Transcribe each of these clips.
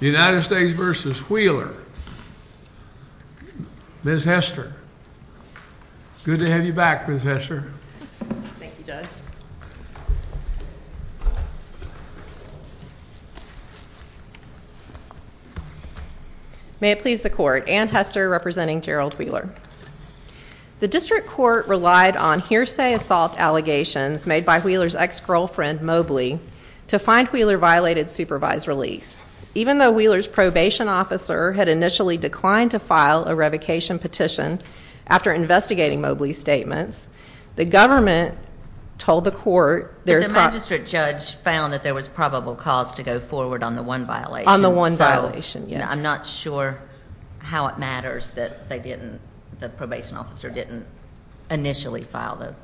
United States v. Wheeler. Ms. Hester, good to have you back, Ms. Hester. May it please the court, Anne Hester representing Gerald Wheeler. The district court relied on hearsay assault allegations made by Wheeler's ex- Even though Wheeler's probation officer had initially declined to file a revocation petition after investigating Mobley's statements, the government told the court- But the magistrate judge found that there was probable cause to go forward on the one violation. On the one violation, yes. I'm not sure how it matters that they didn't, the probation officer didn't initially file the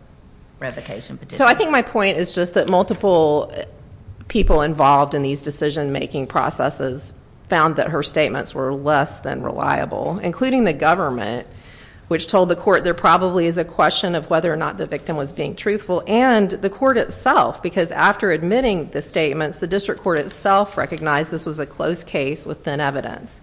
revocation petition. So I think my point is just that multiple people involved in these decision-making processes found that her statements were less than reliable, including the government, which told the court there probably is a question of whether or not the victim was being truthful, and the court itself, because after admitting the statements, the district court itself recognized this was a close case with thin evidence.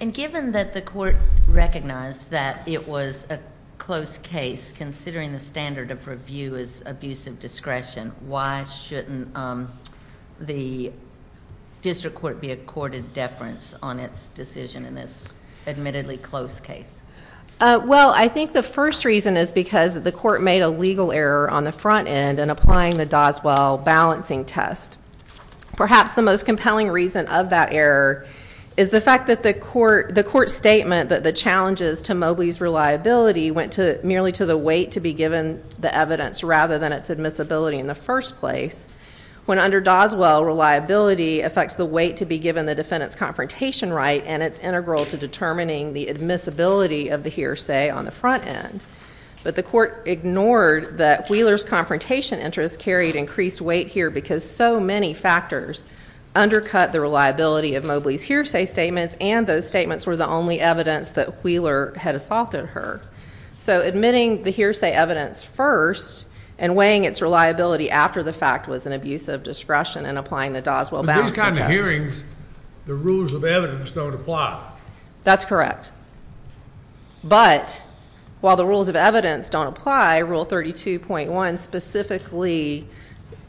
And given that the court recognized that it was a close case, considering the standard of review is abuse of discretion, why shouldn't the district court be accorded deference on its decision in this admittedly close case? Well, I think the first reason is because the court made a legal error on the front end in applying the Doswell balancing test. Perhaps the most compelling reason of that error is the fact that the court's statement that the challenges to reliability went merely to the weight to be given the evidence rather than its admissibility in the first place, when under Doswell, reliability affects the weight to be given the defendant's confrontation right, and it's integral to determining the admissibility of the hearsay on the front end. But the court ignored that Wheeler's confrontation interest carried increased weight here because so many factors undercut the reliability of Mobley's hearsay statements, and those statements were the only evidence that Wheeler had assaulted her. So admitting the hearsay evidence first and weighing its reliability after the fact was an abuse of discretion in applying the Doswell balancing test. With these kind of hearings, the rules of evidence don't apply. That's correct. But while the rules of evidence don't apply, Rule 32.1 specifically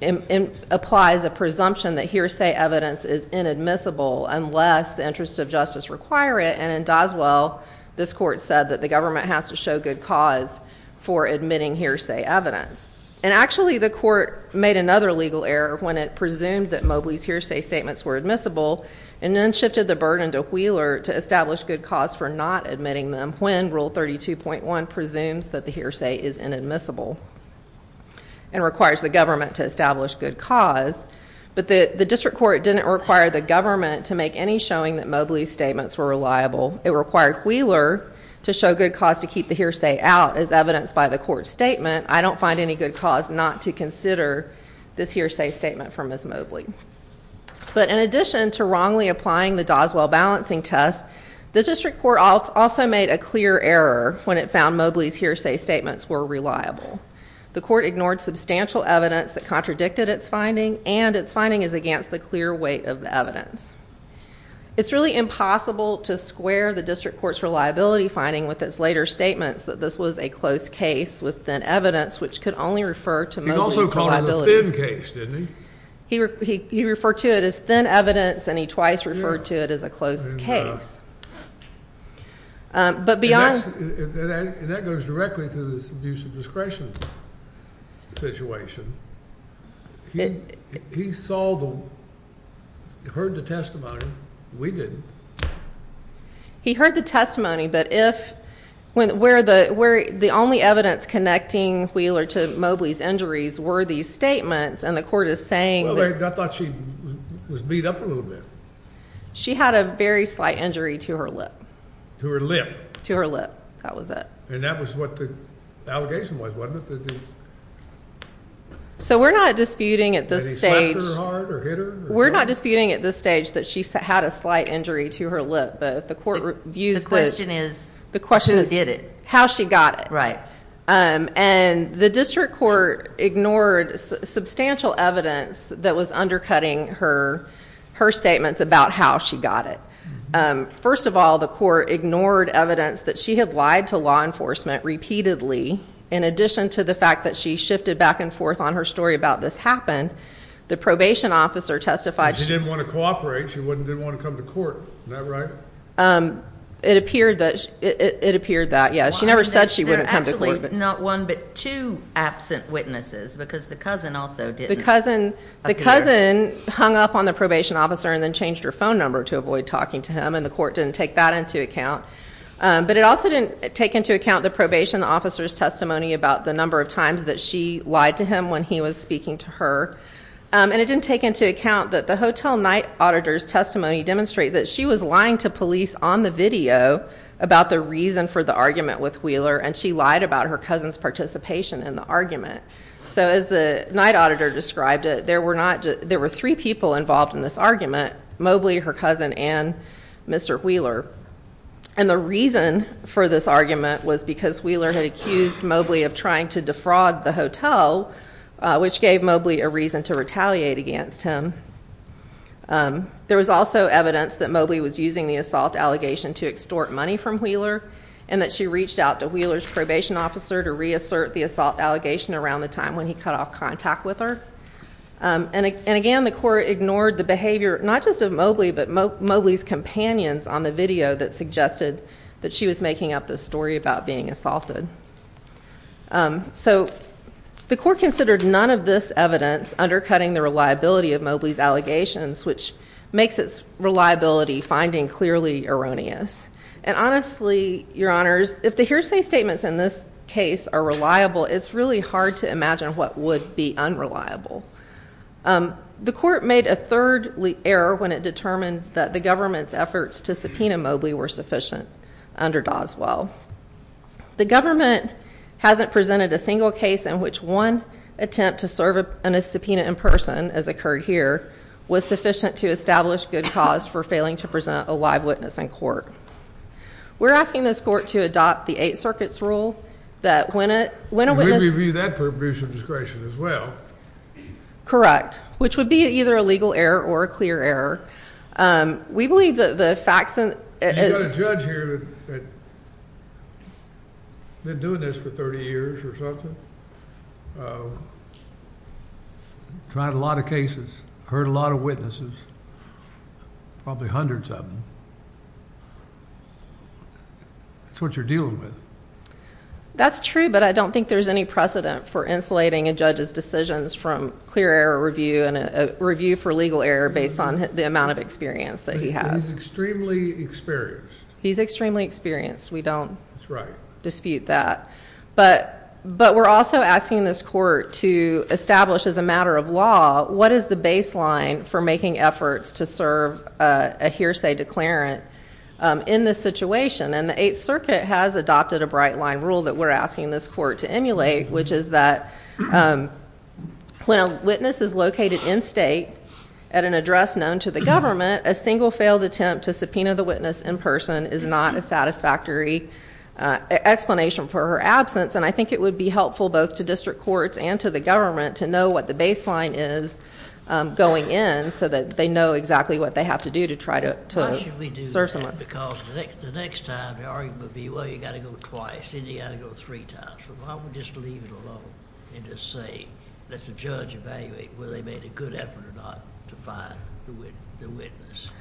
applies a presumption that hearsay evidence is inadmissible unless the interests of justice require it, and in Doswell, this court said that the government has to show good cause for admitting hearsay evidence. And actually the court made another legal error when it presumed that Mobley's hearsay statements were admissible and then shifted the burden to Wheeler to establish good cause for not admitting them when Rule 32.1 presumes that the hearsay is inadmissible and requires the government to establish good cause. But the district court didn't require the government to make any showing that Mobley's statements were reliable. It required Wheeler to show good cause to keep the hearsay out as evidenced by the court statement. I don't find any good cause not to consider this hearsay statement from Ms. Mobley. But in addition to wrongly applying the Doswell balancing test, the district court also made a clear error when it The court ignored substantial evidence that contradicted its finding and its finding is against the clear weight of the evidence. It's really impossible to square the district court's reliability finding with its later statements that this was a close case with thin evidence, which could only refer to Mobley's reliability. He also called it a thin case, didn't he? He referred to it as thin evidence and he twice referred to it as a close case. And that goes directly to this abuse of discretion situation. He saw the, heard the testimony. We didn't. He heard the testimony, but if, where the only evidence connecting Wheeler to Mobley's injuries were these statements and the court is saying... I thought she was beat up a little bit. She had a very slight injury to her lip. To her lip? To her lip. That was it. And that was what the allegation was, wasn't it? So we're not disputing at this stage... Did he slap her hard or hit her? We're not disputing at this stage that she had a slight injury to her lip, but if the court views... The question is... The question is... Who did it? How she got it. Right. And the district court ignored substantial evidence that was undercutting her statements about how she got it. First of all, the court ignored evidence that she had lied to law enforcement repeatedly in addition to the fact that she shifted back and forth on her story about this happened. The probation officer testified... She didn't want to cooperate. She didn't want to come to court. Isn't that right? It appeared that. It appeared that, yes. She never said she wouldn't come to court. Not one, but two absent witnesses because the cousin also didn't. The cousin hung up on the probation officer and then changed her phone number to avoid talking to him and the court didn't take that into account. But it also didn't take into account the probation officer's testimony about the number of times that she lied to him when he was speaking to her. And it didn't take into account that the hotel night auditor's testimony demonstrated that she was lying to on the video about the reason for the argument with Wheeler and she lied about her cousin's participation in the argument. So as the night auditor described it, there were not... There were three people involved in this argument. Mobley, her cousin, and Mr. Wheeler. And the reason for this argument was because Wheeler had accused Mobley of trying to defraud the hotel, which gave Mobley a reason to retaliate against him. There was also evidence that Mobley was using the assault allegation to extort money from Wheeler and that she reached out to Wheeler's probation officer to reassert the assault allegation around the time when he cut off contact with her. And again, the court ignored the behavior, not just of Mobley, but Mobley's companions on the video that suggested that she was making up this story about being assaulted. So the court considered none of this evidence undercutting the reliability of Mobley's allegations, which makes its reliability finding clearly erroneous. And honestly, your honors, if the hearsay statements in this case are reliable, it's really hard to imagine what would be unreliable. The court made a third error when it determined that the government's efforts to subpoena Mobley were sufficient under Doswell. The government hasn't presented a single case in which one attempt to serve in a subpoena in person, as occurred here, was sufficient to establish good cause for failing to present a live witness in court. We're asking this court to adopt the Eighth Circuit's rule that when a witness... We review that for abuse of discretion as well. Correct. Which would be either a legal error or a clear error. We believe that the facts... You got a judge here that's been doing this for 30 years or something. Tried a lot of cases, heard a lot of witnesses, probably hundreds of them. That's what you're dealing with. That's true, but I don't think there's any precedent for insulating a judge's decisions from clear error review and a review for legal error based on the amount of experience that he has. He's extremely experienced. He's extremely experienced. We don't dispute that. But we're also asking this court to establish as a matter of law, what is the baseline for making efforts to serve a hearsay declarant in this situation? And the Eighth Circuit has adopted a bright line rule that we're asking this court to emulate, which is that when a witness is located in state at an address known to the government, a single failed attempt to subpoena the witness in person is not a satisfactory explanation for her absence. I think it would be helpful both to district courts and to the government to know what the baseline is going in so that they know exactly what they have to do to try to serve someone. Why should we do that? Because the next time, the argument would be, well, you got to go twice, then you got to go three times. Why don't we just leave it alone and just say, let the judge evaluate whether they made a good effort or not to find the witness?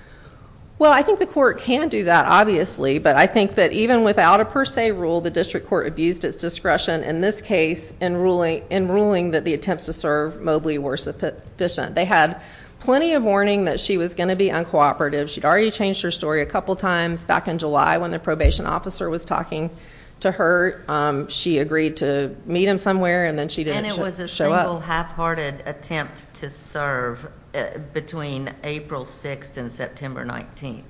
Well, I think the court can do that, obviously, but I think that even without a per se rule, the district court abused its discretion in this case in ruling that the attempts to serve Mobley were sufficient. They had plenty of warning that she was going to be uncooperative. She'd already changed her story a couple times back in July when the probation officer was talking to her. She agreed to meet him somewhere, and then she didn't show up. And it was a single half-hearted attempt to serve between April 6th and September 19th.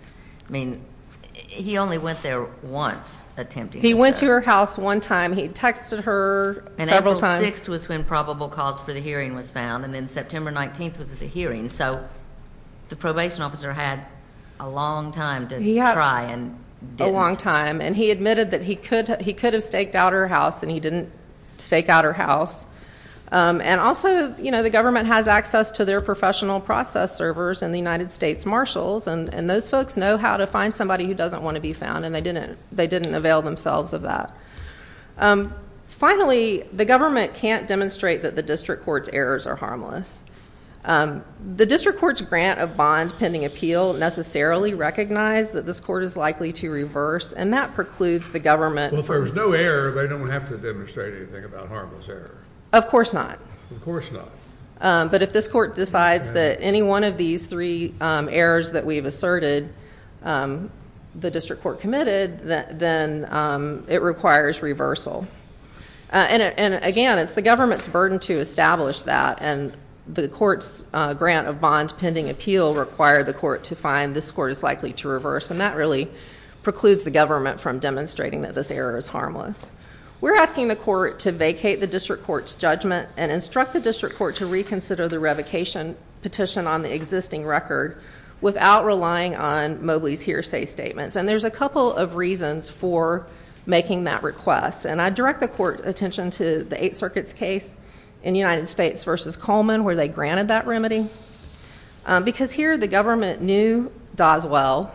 I mean, he only went there once attempting to serve. He went to her house one time. He texted her several times. And April 6th was when probable cause for the hearing was found, and then September 19th was the hearing. So the probation officer had a long time to try and didn't. A long time. And he admitted that he could have staked out her house, and he didn't stake out her house. And also, the government has access to their professional process servers and the United States Marshals, and those folks know how to find somebody who doesn't want to be found, and they didn't avail themselves of that. Finally, the government can't demonstrate that the district court's errors are harmless. The district court's grant of bond pending appeal necessarily recognize that this court is likely to reverse, and that precludes the government. Well, if there was no error, they don't have to demonstrate anything about harmless error. Of course not. Of course not. But if this court decides that any one of these three errors that we've asserted, the district court committed, then it requires reversal. And again, it's the government's burden to establish that, and the court's grant of bond pending appeal require the court to find this court is likely to reverse, and that really precludes the government from demonstrating that this error is harmless. We're asking the court to vacate the district court's judgment and instruct the district court to reconsider the revocation petition on the existing record without relying on Mobley's hearsay statements, and there's a couple of reasons for making that request, and I direct the court's attention to the Eighth Circuit's case in United States versus Coleman where they granted that remedy, because here the government knew Doswell.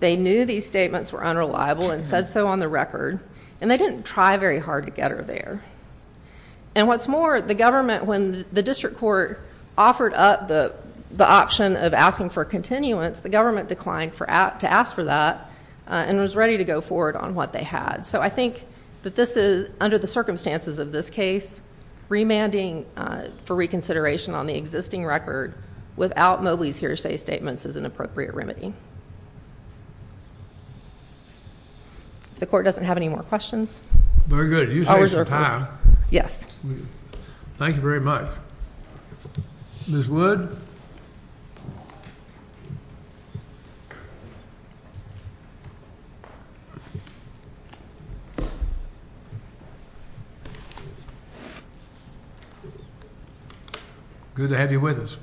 They knew these statements were unreliable and said so on the record, and they didn't try very hard to get her there. And what's more, the government, when the district court offered up the option of asking for a continuance, the government declined to ask for that and was ready to go forward on what they had. So I think that this is, under the circumstances of this case, remanding for reconsideration on the existing record without Mobley's hearsay statements is an appropriate remedy. The court doesn't have any more questions? Very good. Thank you very much. Ms. Wood? Good to have you with us.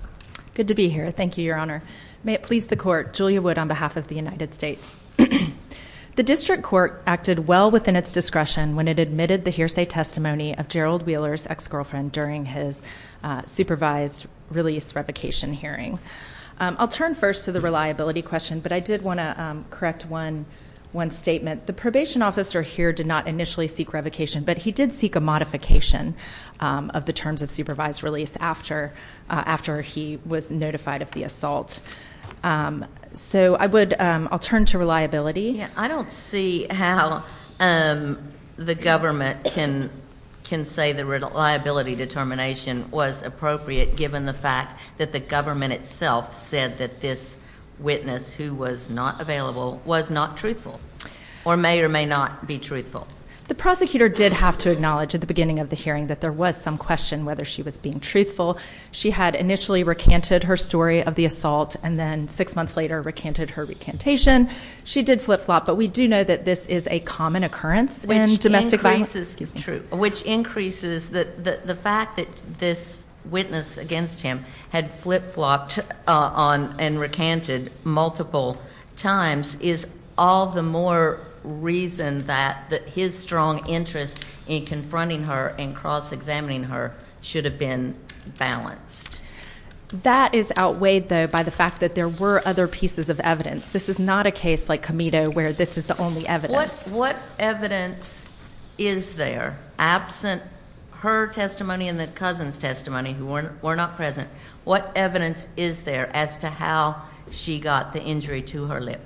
Good to be here. Thank you, Your Honor. May it please the court, Julia Wood on behalf of the United States. The district court acted well within its discretion when it admitted the hearsay testimony of Gerald Wheeler's ex-girlfriend during his supervised release revocation hearing. I'll turn first to the reliability question, but I did want to correct one statement. The probation officer here did not initially seek revocation, but he did seek a modification of the terms of supervised release after he was notified of the assault. So I'll turn to reliability. I don't see how the government can say the reliability determination was appropriate given the fact that the government itself said that this witness who was not available was not truthful or may or may not be truthful. The prosecutor did have to acknowledge at the beginning of the hearing that there was some question whether she was being truthful. She had initially recanted her story of the assault, and then six months later recanted her recantation. She did flip-flop, but we do know that this is a common occurrence in domestic violence- Which increases the fact that this witness against him had flip-flopped and recanted multiple times is all the more reason that his strong interest in confronting her and examining her should have been balanced. That is outweighed, though, by the fact that there were other pieces of evidence. This is not a case like Comito where this is the only evidence. What evidence is there, absent her testimony and the cousin's testimony who were not present, what evidence is there as to how she got the injury to her lip?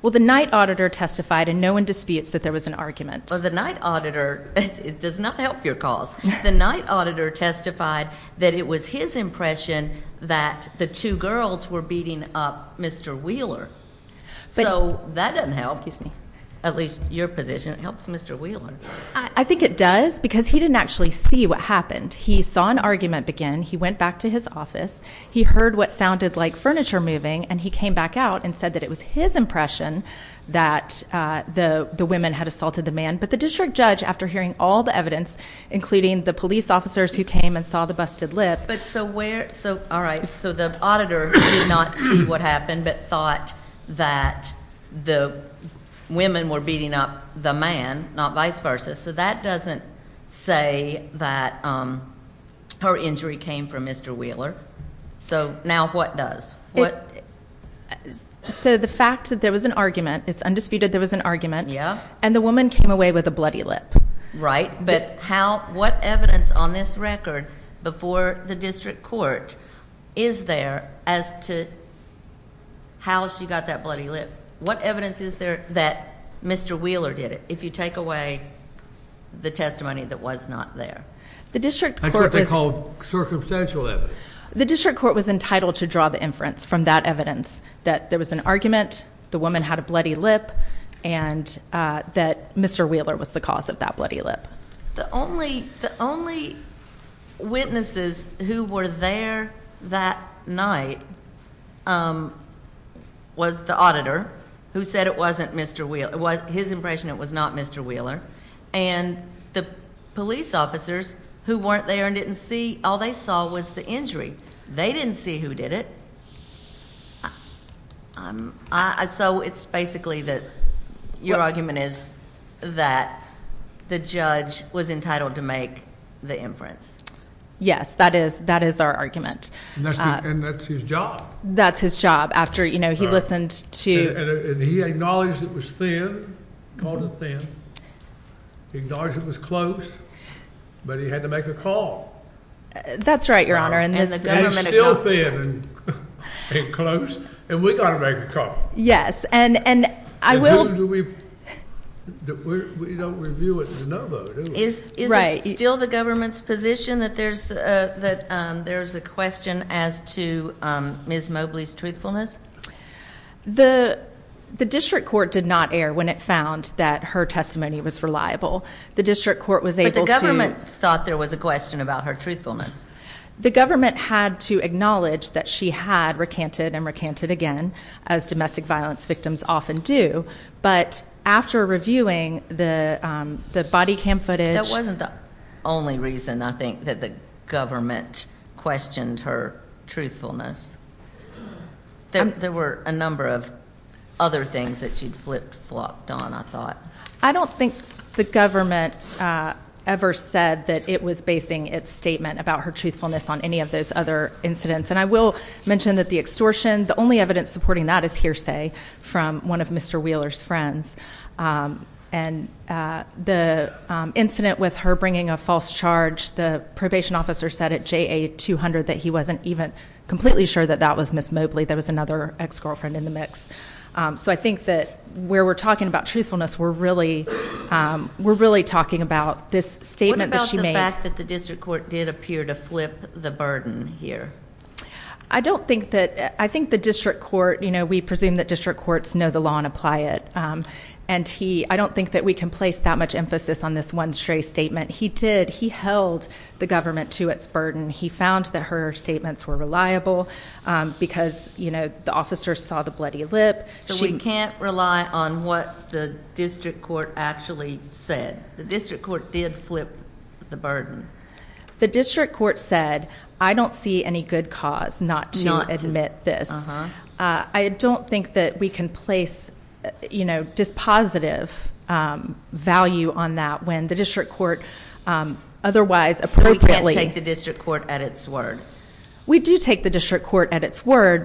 Well, the night auditor testified, and no one disputes that there was an argument. The night auditor, it does not help your cause. The night auditor testified that it was his impression that the two girls were beating up Mr. Wheeler. So that doesn't help, at least your position, it helps Mr. Wheeler. I think it does because he didn't actually see what happened. He saw an argument begin. He went back to his office. He heard what sounded like furniture moving, and he came back out and said that it was his impression that the women had assaulted the man. But the district judge, after hearing all the evidence, including the police officers who came and saw the busted lip— But so where—all right, so the auditor did not see what happened but thought that the women were beating up the man, not vice versa. So that doesn't say that her injury came from Mr. Wheeler. So now what does? So the fact that there was an argument, it's undisputed there was an argument. Yeah. And the woman came away with a bloody lip. Right. But what evidence on this record before the district court is there as to how she got that bloody lip? What evidence is there that Mr. Wheeler did it, if you take away the testimony that was not there? The district court was— That's what they call circumstantial evidence. The district court was entitled to draw the inference from that evidence, that there was an argument, the woman had a bloody lip, and that Mr. Wheeler was the cause of that bloody lip. The only witnesses who were there that night was the auditor, who said it wasn't Mr. Wheeler—his impression it was not Mr. Wheeler. And the police officers who weren't there and didn't see, all they saw was the injury. They didn't see who did it. So it's basically that your argument is that the judge was entitled to make the inference. Yes, that is our argument. And that's his job. That's his job. After he listened to— And he acknowledged it was thin, called it thin, acknowledged it was close, but he had to make a call. That's right, Your Honor. And it was still thin and close, and we got to make a call. Yes, and I will— And who do we—we don't review it as a no vote, do we? Is it still the government's position that there's a question as to Ms. Mobley's truthfulness? The district court did not err when it found that her testimony was reliable. The district court was able to— But the government thought there was a question about her truthfulness. The government had to acknowledge that she had recanted and recanted again, as domestic violence victims often do. But after reviewing the body cam footage— That wasn't the only reason, I think, that the government questioned her truthfulness. There were a number of other things that she'd flip-flopped on, I thought. I don't think the government ever said that it was basing its statement about her truthfulness on any of those other incidents. And I will mention that the extortion, the only evidence supporting that is hearsay from one of Mr. Wheeler's friends. And the incident with her bringing a false charge, the probation officer said at JA200 that he wasn't even completely sure that that was Ms. Mobley. There was another ex-girlfriend in the mix. So I think that where we're talking about truthfulness, we're really talking about this statement that she made— What about the fact that the district court did appear to flip the burden here? I don't think that—I think the district court—you know, we presume that district courts know the law and apply it. And I don't think that we can place that much emphasis on this one stray statement. He did. He held the government to its burden. He found that her statements were reliable because, you know, the officer saw the bloody lip. So we can't rely on what the district court actually said. The district court did flip the burden. The district court said, I don't see any good cause not to admit this. I don't think that we can place, you know, dispositive value on that when the district court otherwise— We do take the district court at its word,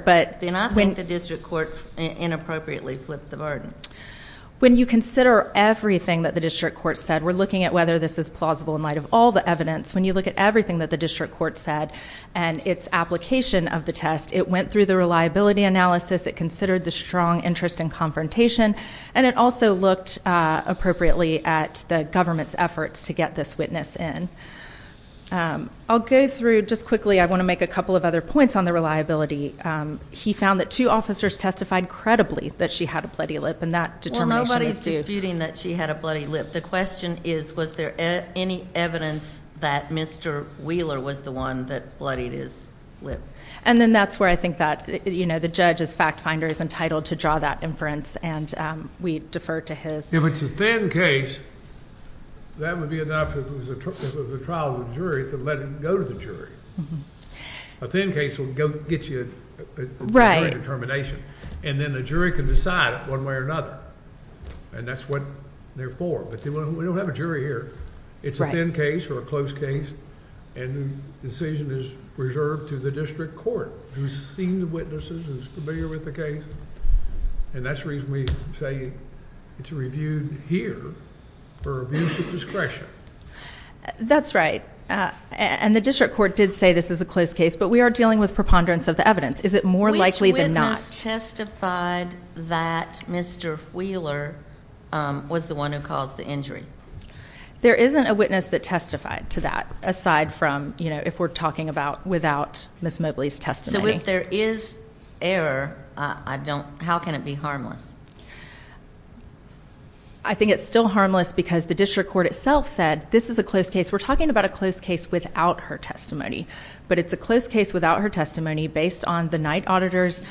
but— Then I think the district court inappropriately flipped the burden. When you consider everything that the district court said, we're looking at whether this is plausible in light of all the evidence. When you look at everything that the district court said and its application of the test, it went through the reliability analysis, it considered the strong interest in confrontation, and it also looked appropriately at the government's efforts to get this witness in. I'll go through, just quickly, I want to make a couple of other points on the reliability. He found that two officers testified credibly that she had a bloody lip, and that determination is due. Well, nobody's disputing that she had a bloody lip. The question is, was there any evidence that Mr. Wheeler was the one that bloodied his And then that's where I think that, you know, the judge as fact finder is entitled to draw that inference, and we defer to his. If it's a thin case, that would be enough if it was a trial with a jury to let it go to the jury. A thin case will get you a determination, and then a jury can decide it one way or another, and that's what they're for, but we don't have a jury here. It's a thin case or a close case, and the decision is reserved to the district court who's seen the witnesses and is familiar with the case, and that's the reason we say it's reviewed here for abuse of discretion. That's right, and the district court did say this is a close case, but we are dealing with preponderance of the evidence. Is it more likely than not? Which witness testified that Mr. Wheeler was the one who caused the injury? There isn't a witness that testified to that, aside from, you know, if we're talking about without Ms. Mobley's testimony. So if there is error, how can it be harmless? I think it's still harmless because the district court itself said this is a close case. We're talking about a close case without her testimony, but it's a close case without her testimony based on the night auditor's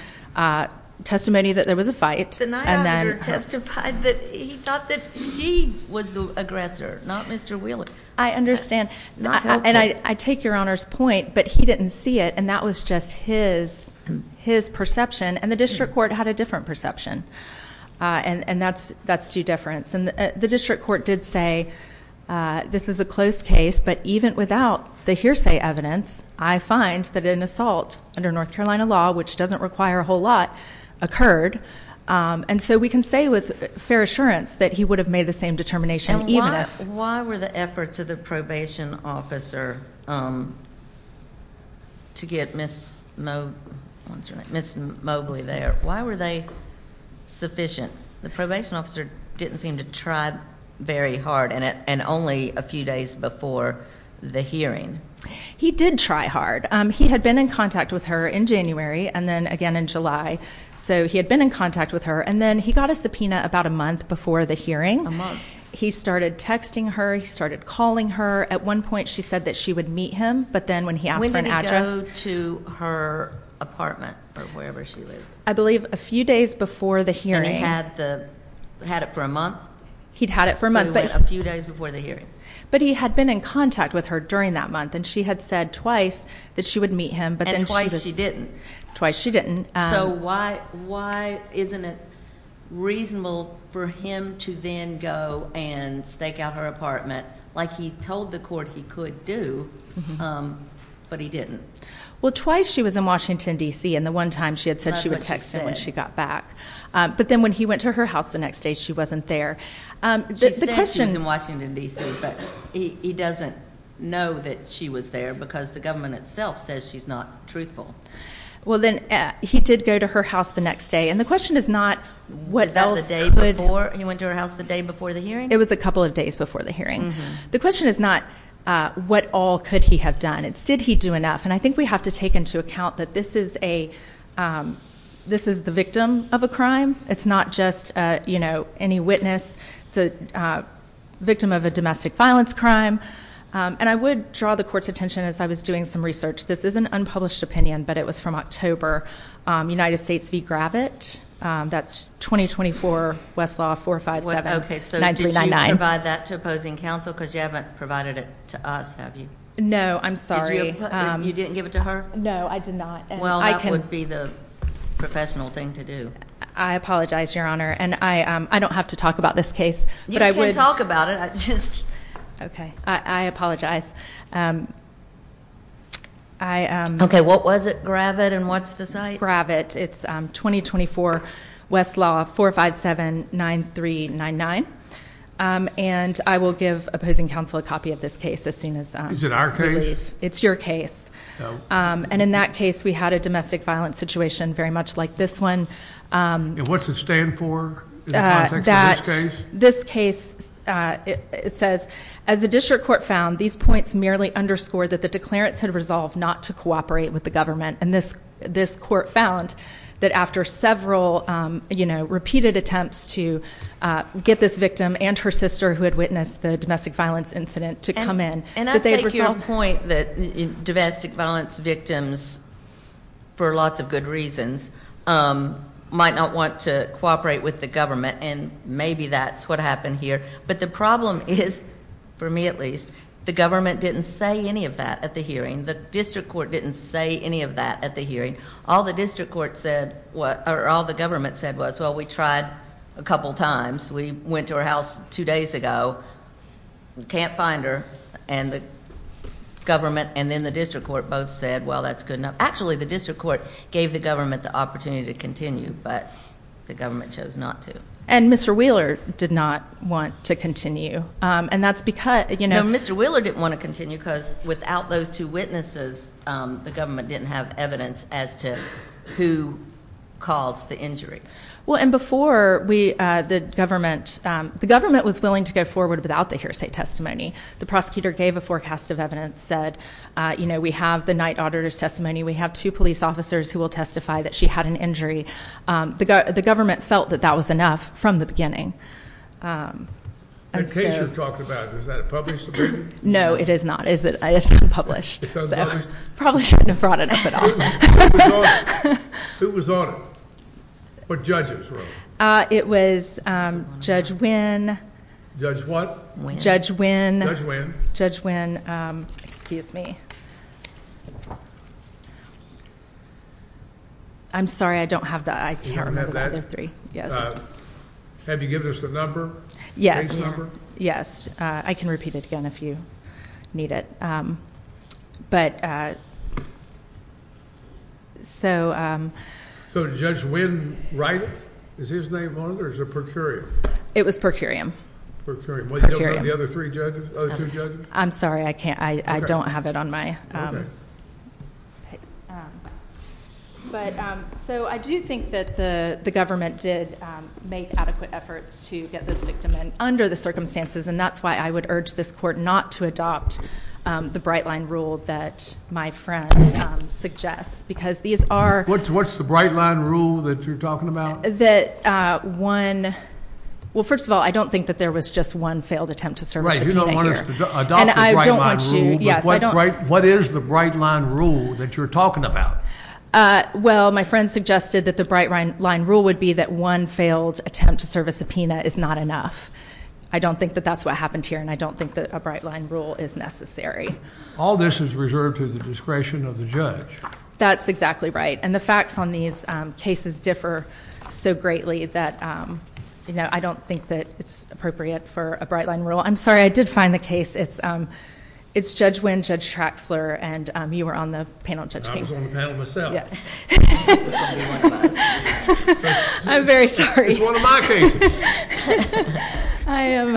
testimony that there was a fight. The night auditor testified that he thought that she was the aggressor, not Mr. Wheeler. I understand, and I take Your Honor's point, but he didn't see it, and that was just his perception, and the district court had a different perception, and that's due deference, and the district court did say this is a close case, but even without the hearsay evidence, I find that an assault under North Carolina law, which doesn't require a whole lot, occurred, and so we can say with fair assurance that he would have made the same determination even if... Why were the efforts of the probation officer to get Ms. Mobley there? Why were they sufficient? The probation officer didn't seem to try very hard, and only a few days before the He did try hard. He had been in contact with her in January, and then again in July, so he had been in contact with her, and then he got a subpoena about a month before the hearing. He started texting her. He started calling her. At one point, she said that she would meet him, but then when he asked for an address... When did he go to her apartment or wherever she lived? I believe a few days before the hearing. And he had it for a month? He'd had it for a month, but... A few days before the hearing? But he had been in contact with her during that month, and she had said twice that she would meet him, but then she... And twice she didn't? Twice she didn't. So why isn't it reasonable for him to then go and stake out her apartment like he told the court he could do, but he didn't? Well, twice she was in Washington, D.C., and the one time she had said she would text him when she got back. But then when he went to her house the next day, she wasn't there. She said she was in Washington, D.C., but he doesn't know that she was there because the government itself says she's not truthful. Well, then he did go to her house the next day, and the question is not... Was that the day before he went to her house, the day before the hearing? It was a couple of days before the hearing. The question is not what all could he have done. Did he do enough? And I think we have to take into account that this is the victim of a crime. It's not just any witness. It's a victim of a domestic violence crime, and I would draw the court's attention as I was doing some research. This is an unpublished opinion, but it was from October. United States v. Gravitt. That's 2024, Westlaw 457-9399. Okay, so did you provide that to opposing counsel? Because you haven't provided it to us, have you? No, I'm sorry. You didn't give it to her? No, I did not. Well, that would be the professional thing to do. I apologize, Your Honor, and I don't have to talk about this case. You can talk about it. Okay, I apologize. Okay, what was it, Gravitt, and what's the site? Gravitt. It's 2024, Westlaw 457-9399, and I will give opposing counsel a copy of this case as soon as... Is it our case? It's your case, and in that case, we had a domestic violence situation very much like this one. And what's it stand for in the context of this case? This case says, as the district court found, these points merely underscore that the declarants had resolved not to cooperate with the government, and this court found that after several repeated attempts to get this victim and her sister who had witnessed the domestic violence incident to come And I take your point that domestic violence victims, for lots of good reasons, might not want to cooperate with the government, and maybe that's what happened here. But the problem is, for me at least, the government didn't say any of that at the hearing. The district court didn't say any of that at the hearing. All the district court said, or all the government said was, well, we tried a couple times. We went to her house two days ago, can't find her, and the government and then the district court both said, well, that's good enough. Actually, the district court gave the government the opportunity to continue, but the government chose not to. And Mr. Wheeler did not want to continue, and that's because... No, Mr. Wheeler didn't want to continue because without those two witnesses, the government didn't have evidence as to who caused the injury. Well, and before the government... The government was willing to go forward without the hearsay testimony. The prosecutor gave a forecast of evidence, said, you know, we have the night auditor's testimony. We have two police officers who will testify that she had an injury. The government felt that that was enough from the beginning. That case you're talking about, is that published? No, it is not. It's unpublished. It's unpublished? Probably shouldn't have brought it up at all. Who was on it? What judges were on it? It was Judge Wynn. Judge what? Judge Wynn. Judge Wynn. Judge Wynn, excuse me. I'm sorry, I don't have that. I can't remember the other three, yes. Have you given us the number? Yes. Yes, I can repeat it again if you need it. But... So... So Judge Wynn, right? Is his name on it, or is it per curiam? It was per curiam. Per curiam. Well, you don't have the other three judges, other two judges? I'm sorry, I can't. I don't have it on my... But so I do think that the government did make adequate efforts to get this victim in under the circumstances, and that's why I would urge this court not to adopt the bright line rule that my friend suggests, because these are... What's the bright line rule that you're talking about? That one... Well, first of all, I don't think that there was just one failed attempt to serve a subpoena here. Right, you don't want us to adopt the bright line rule, but what is the bright line rule that you're talking about? Well, my friend suggested that the bright line rule would be that one failed attempt to serve a subpoena is not enough. I don't think that that's what happened here, and I don't think that a bright line rule is necessary. All this is reserved to the discretion of the judge. That's exactly right. The facts on these cases differ so greatly that I don't think that it's appropriate for a bright line rule. I'm sorry, I did find the case. It's Judge Wynn, Judge Traxler, and you were on the panel, Judge King. I was on the panel myself. Yes. I'm very sorry. It's one of my cases. I am...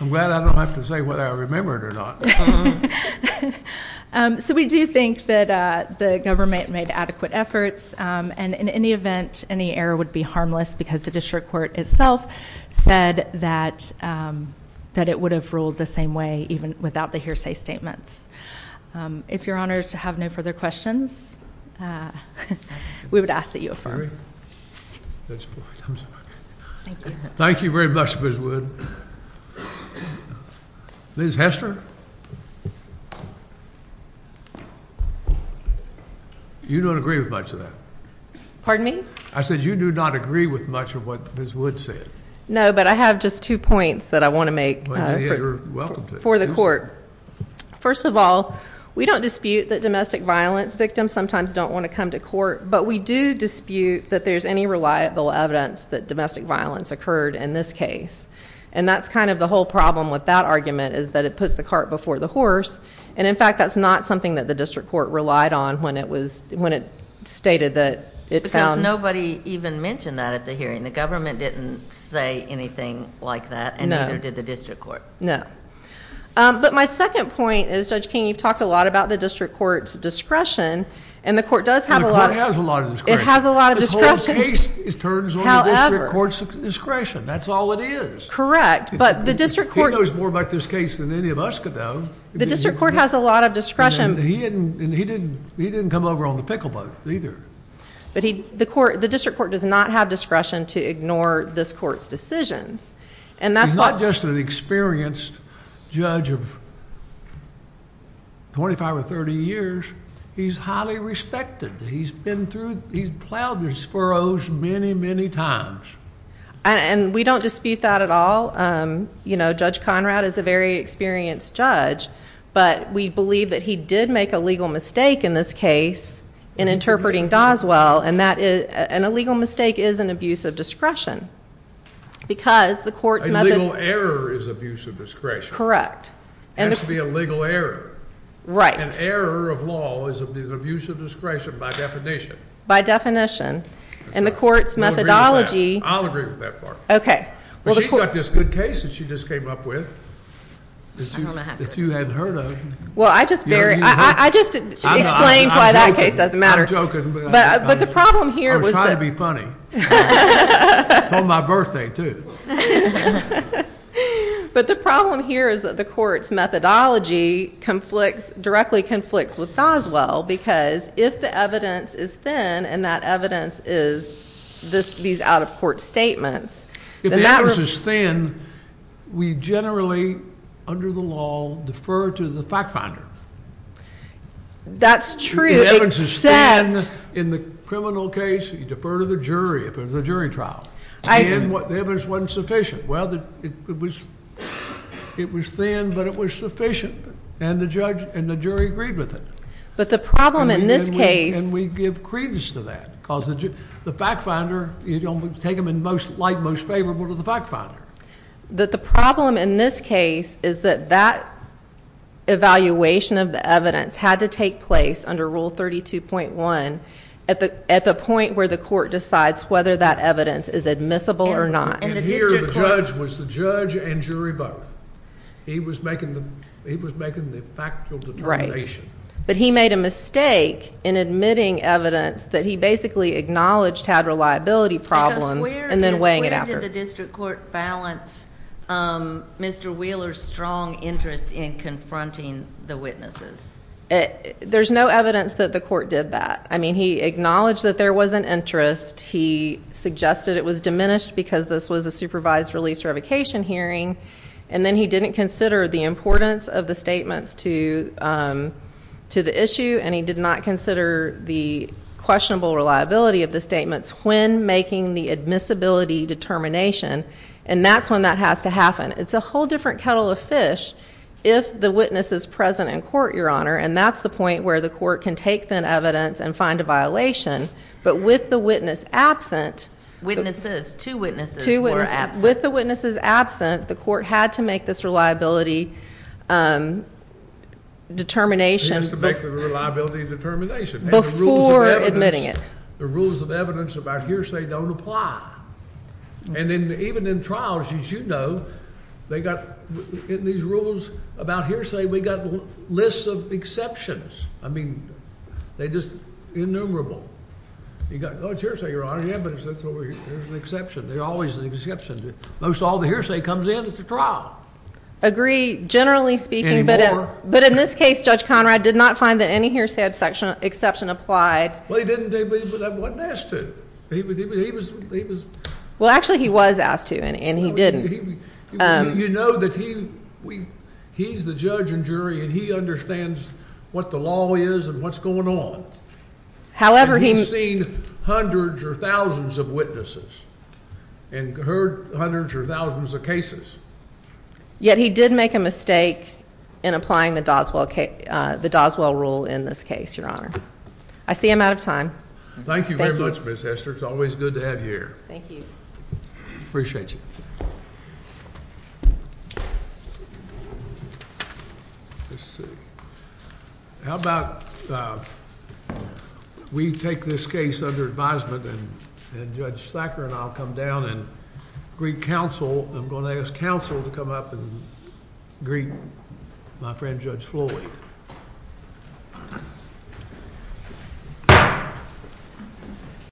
I'm glad I don't have to say whether I remember it or not. So, we do think that the government made adequate efforts, and in any event, any error would be harmless because the district court itself said that it would have ruled the same way even without the hearsay statements. If you're honored to have no further questions, we would ask that you affirm. Thank you very much, Ms. Wood. Ms. Hester? You don't agree with much of that. Pardon me? I said you do not agree with much of what Ms. Wood said. No, but I have just two points that I want to make for the court. First of all, we don't dispute that domestic violence victims sometimes don't want to come to court, but we do dispute that there's any reliable evidence that domestic violence occurred in this case. That's the whole problem with that argument is that it puts the cart before the horse, and in fact, that's not something that the district court relied on when it stated that it found... Because nobody even mentioned that at the hearing. The government didn't say anything like that, and neither did the district court. No. But my second point is, Judge King, you've talked a lot about the district court's discretion, and the court does have a lot of... The court has a lot of discretion. It has a lot of discretion. This whole case turns on the district court's discretion. That's all it is. Correct, but the district court... He knows more about this case than any of us could know. The district court has a lot of discretion. He didn't come over on the pickle boat either. The district court does not have discretion to ignore this court's decisions, and that's why... He's not just an experienced judge of 25 or 30 years. He's highly respected. He's plowed his furrows many, many times. And we don't dispute that at all. Judge Conrad is a very experienced judge, but we believe that he did make a legal mistake in this case in interpreting Doswell, and a legal mistake is an abuse of discretion because the court's... A legal error is abuse of discretion. Correct. It has to be a legal error. Right. An error of law is abuse of discretion by definition. By definition, and the court's methodology... I'll agree with that part. But she's got this good case that she just came up with. If you hadn't heard of... Well, I just explained why that case doesn't matter. I'm joking, but... But the problem here was... I was trying to be funny. It's on my birthday, too. But the problem here is that the court's methodology directly conflicts with Doswell because if the evidence is thin and that evidence is these out-of-court statements... If the evidence is thin, we generally, under the law, defer to the fact finder. That's true, except... If the evidence is thin in the criminal case, you defer to the jury if it was a jury trial, and the evidence wasn't sufficient. Well, it was thin, but it was sufficient, and the jury agreed with it. But the problem in this case... Take them in light most favorable to the fact finder. The problem in this case is that that evaluation of the evidence had to take place under Rule 32.1 at the point where the court decides whether that evidence is admissible or not. And here, the judge was the judge and jury both. He was making the factual determination. But he made a mistake in admitting evidence that he basically acknowledged had reliability problems and then weighing it out. Because where did the district court balance Mr. Wheeler's strong interest in confronting the witnesses? There's no evidence that the court did that. I mean, he acknowledged that there was an interest. He suggested it was diminished because this was a supervised release revocation hearing, and then he didn't consider the importance of the statements to the issue, and he did not consider the questionable reliability of the statements when making the admissibility determination. And that's when that has to happen. It's a whole different kettle of fish if the witness is present in court, Your Honor, and that's the point where the court can take that evidence and find a violation. But with the witness absent... Witnesses. Two witnesses were absent. With the witnesses absent, the court had to make this reliability determination... It has to make the reliability determination. Before admitting it. The rules of evidence about hearsay don't apply. And even in trials, as you know, they got... In these rules about hearsay, we got lists of exceptions. I mean, they're just innumerable. You got, oh, it's hearsay, Your Honor. Yeah, but there's an exception. There's always an exception. Most all the hearsay comes in at the trial. Agree. Generally speaking... Any more? But in this case, Judge Conrad did not find that any hearsay exception applied. Well, he didn't, but I wasn't asked to. Well, actually, he was asked to, and he didn't. You know that he's the judge and jury, and he understands what the law is and what's going on. However, he... And he's seen hundreds or thousands of witnesses and heard hundreds or thousands of cases. Yet, he did make a mistake in applying the Doswell rule in this case, Your Honor. I see I'm out of time. Thank you very much, Ms. Hester. It's always good to have you here. Thank you. Appreciate you. Let's see. How about we take this case under advisement, and Judge Thacker and I will come down, greet counsel, and I'm going to ask counsel to come up and greet my friend Judge Floyd.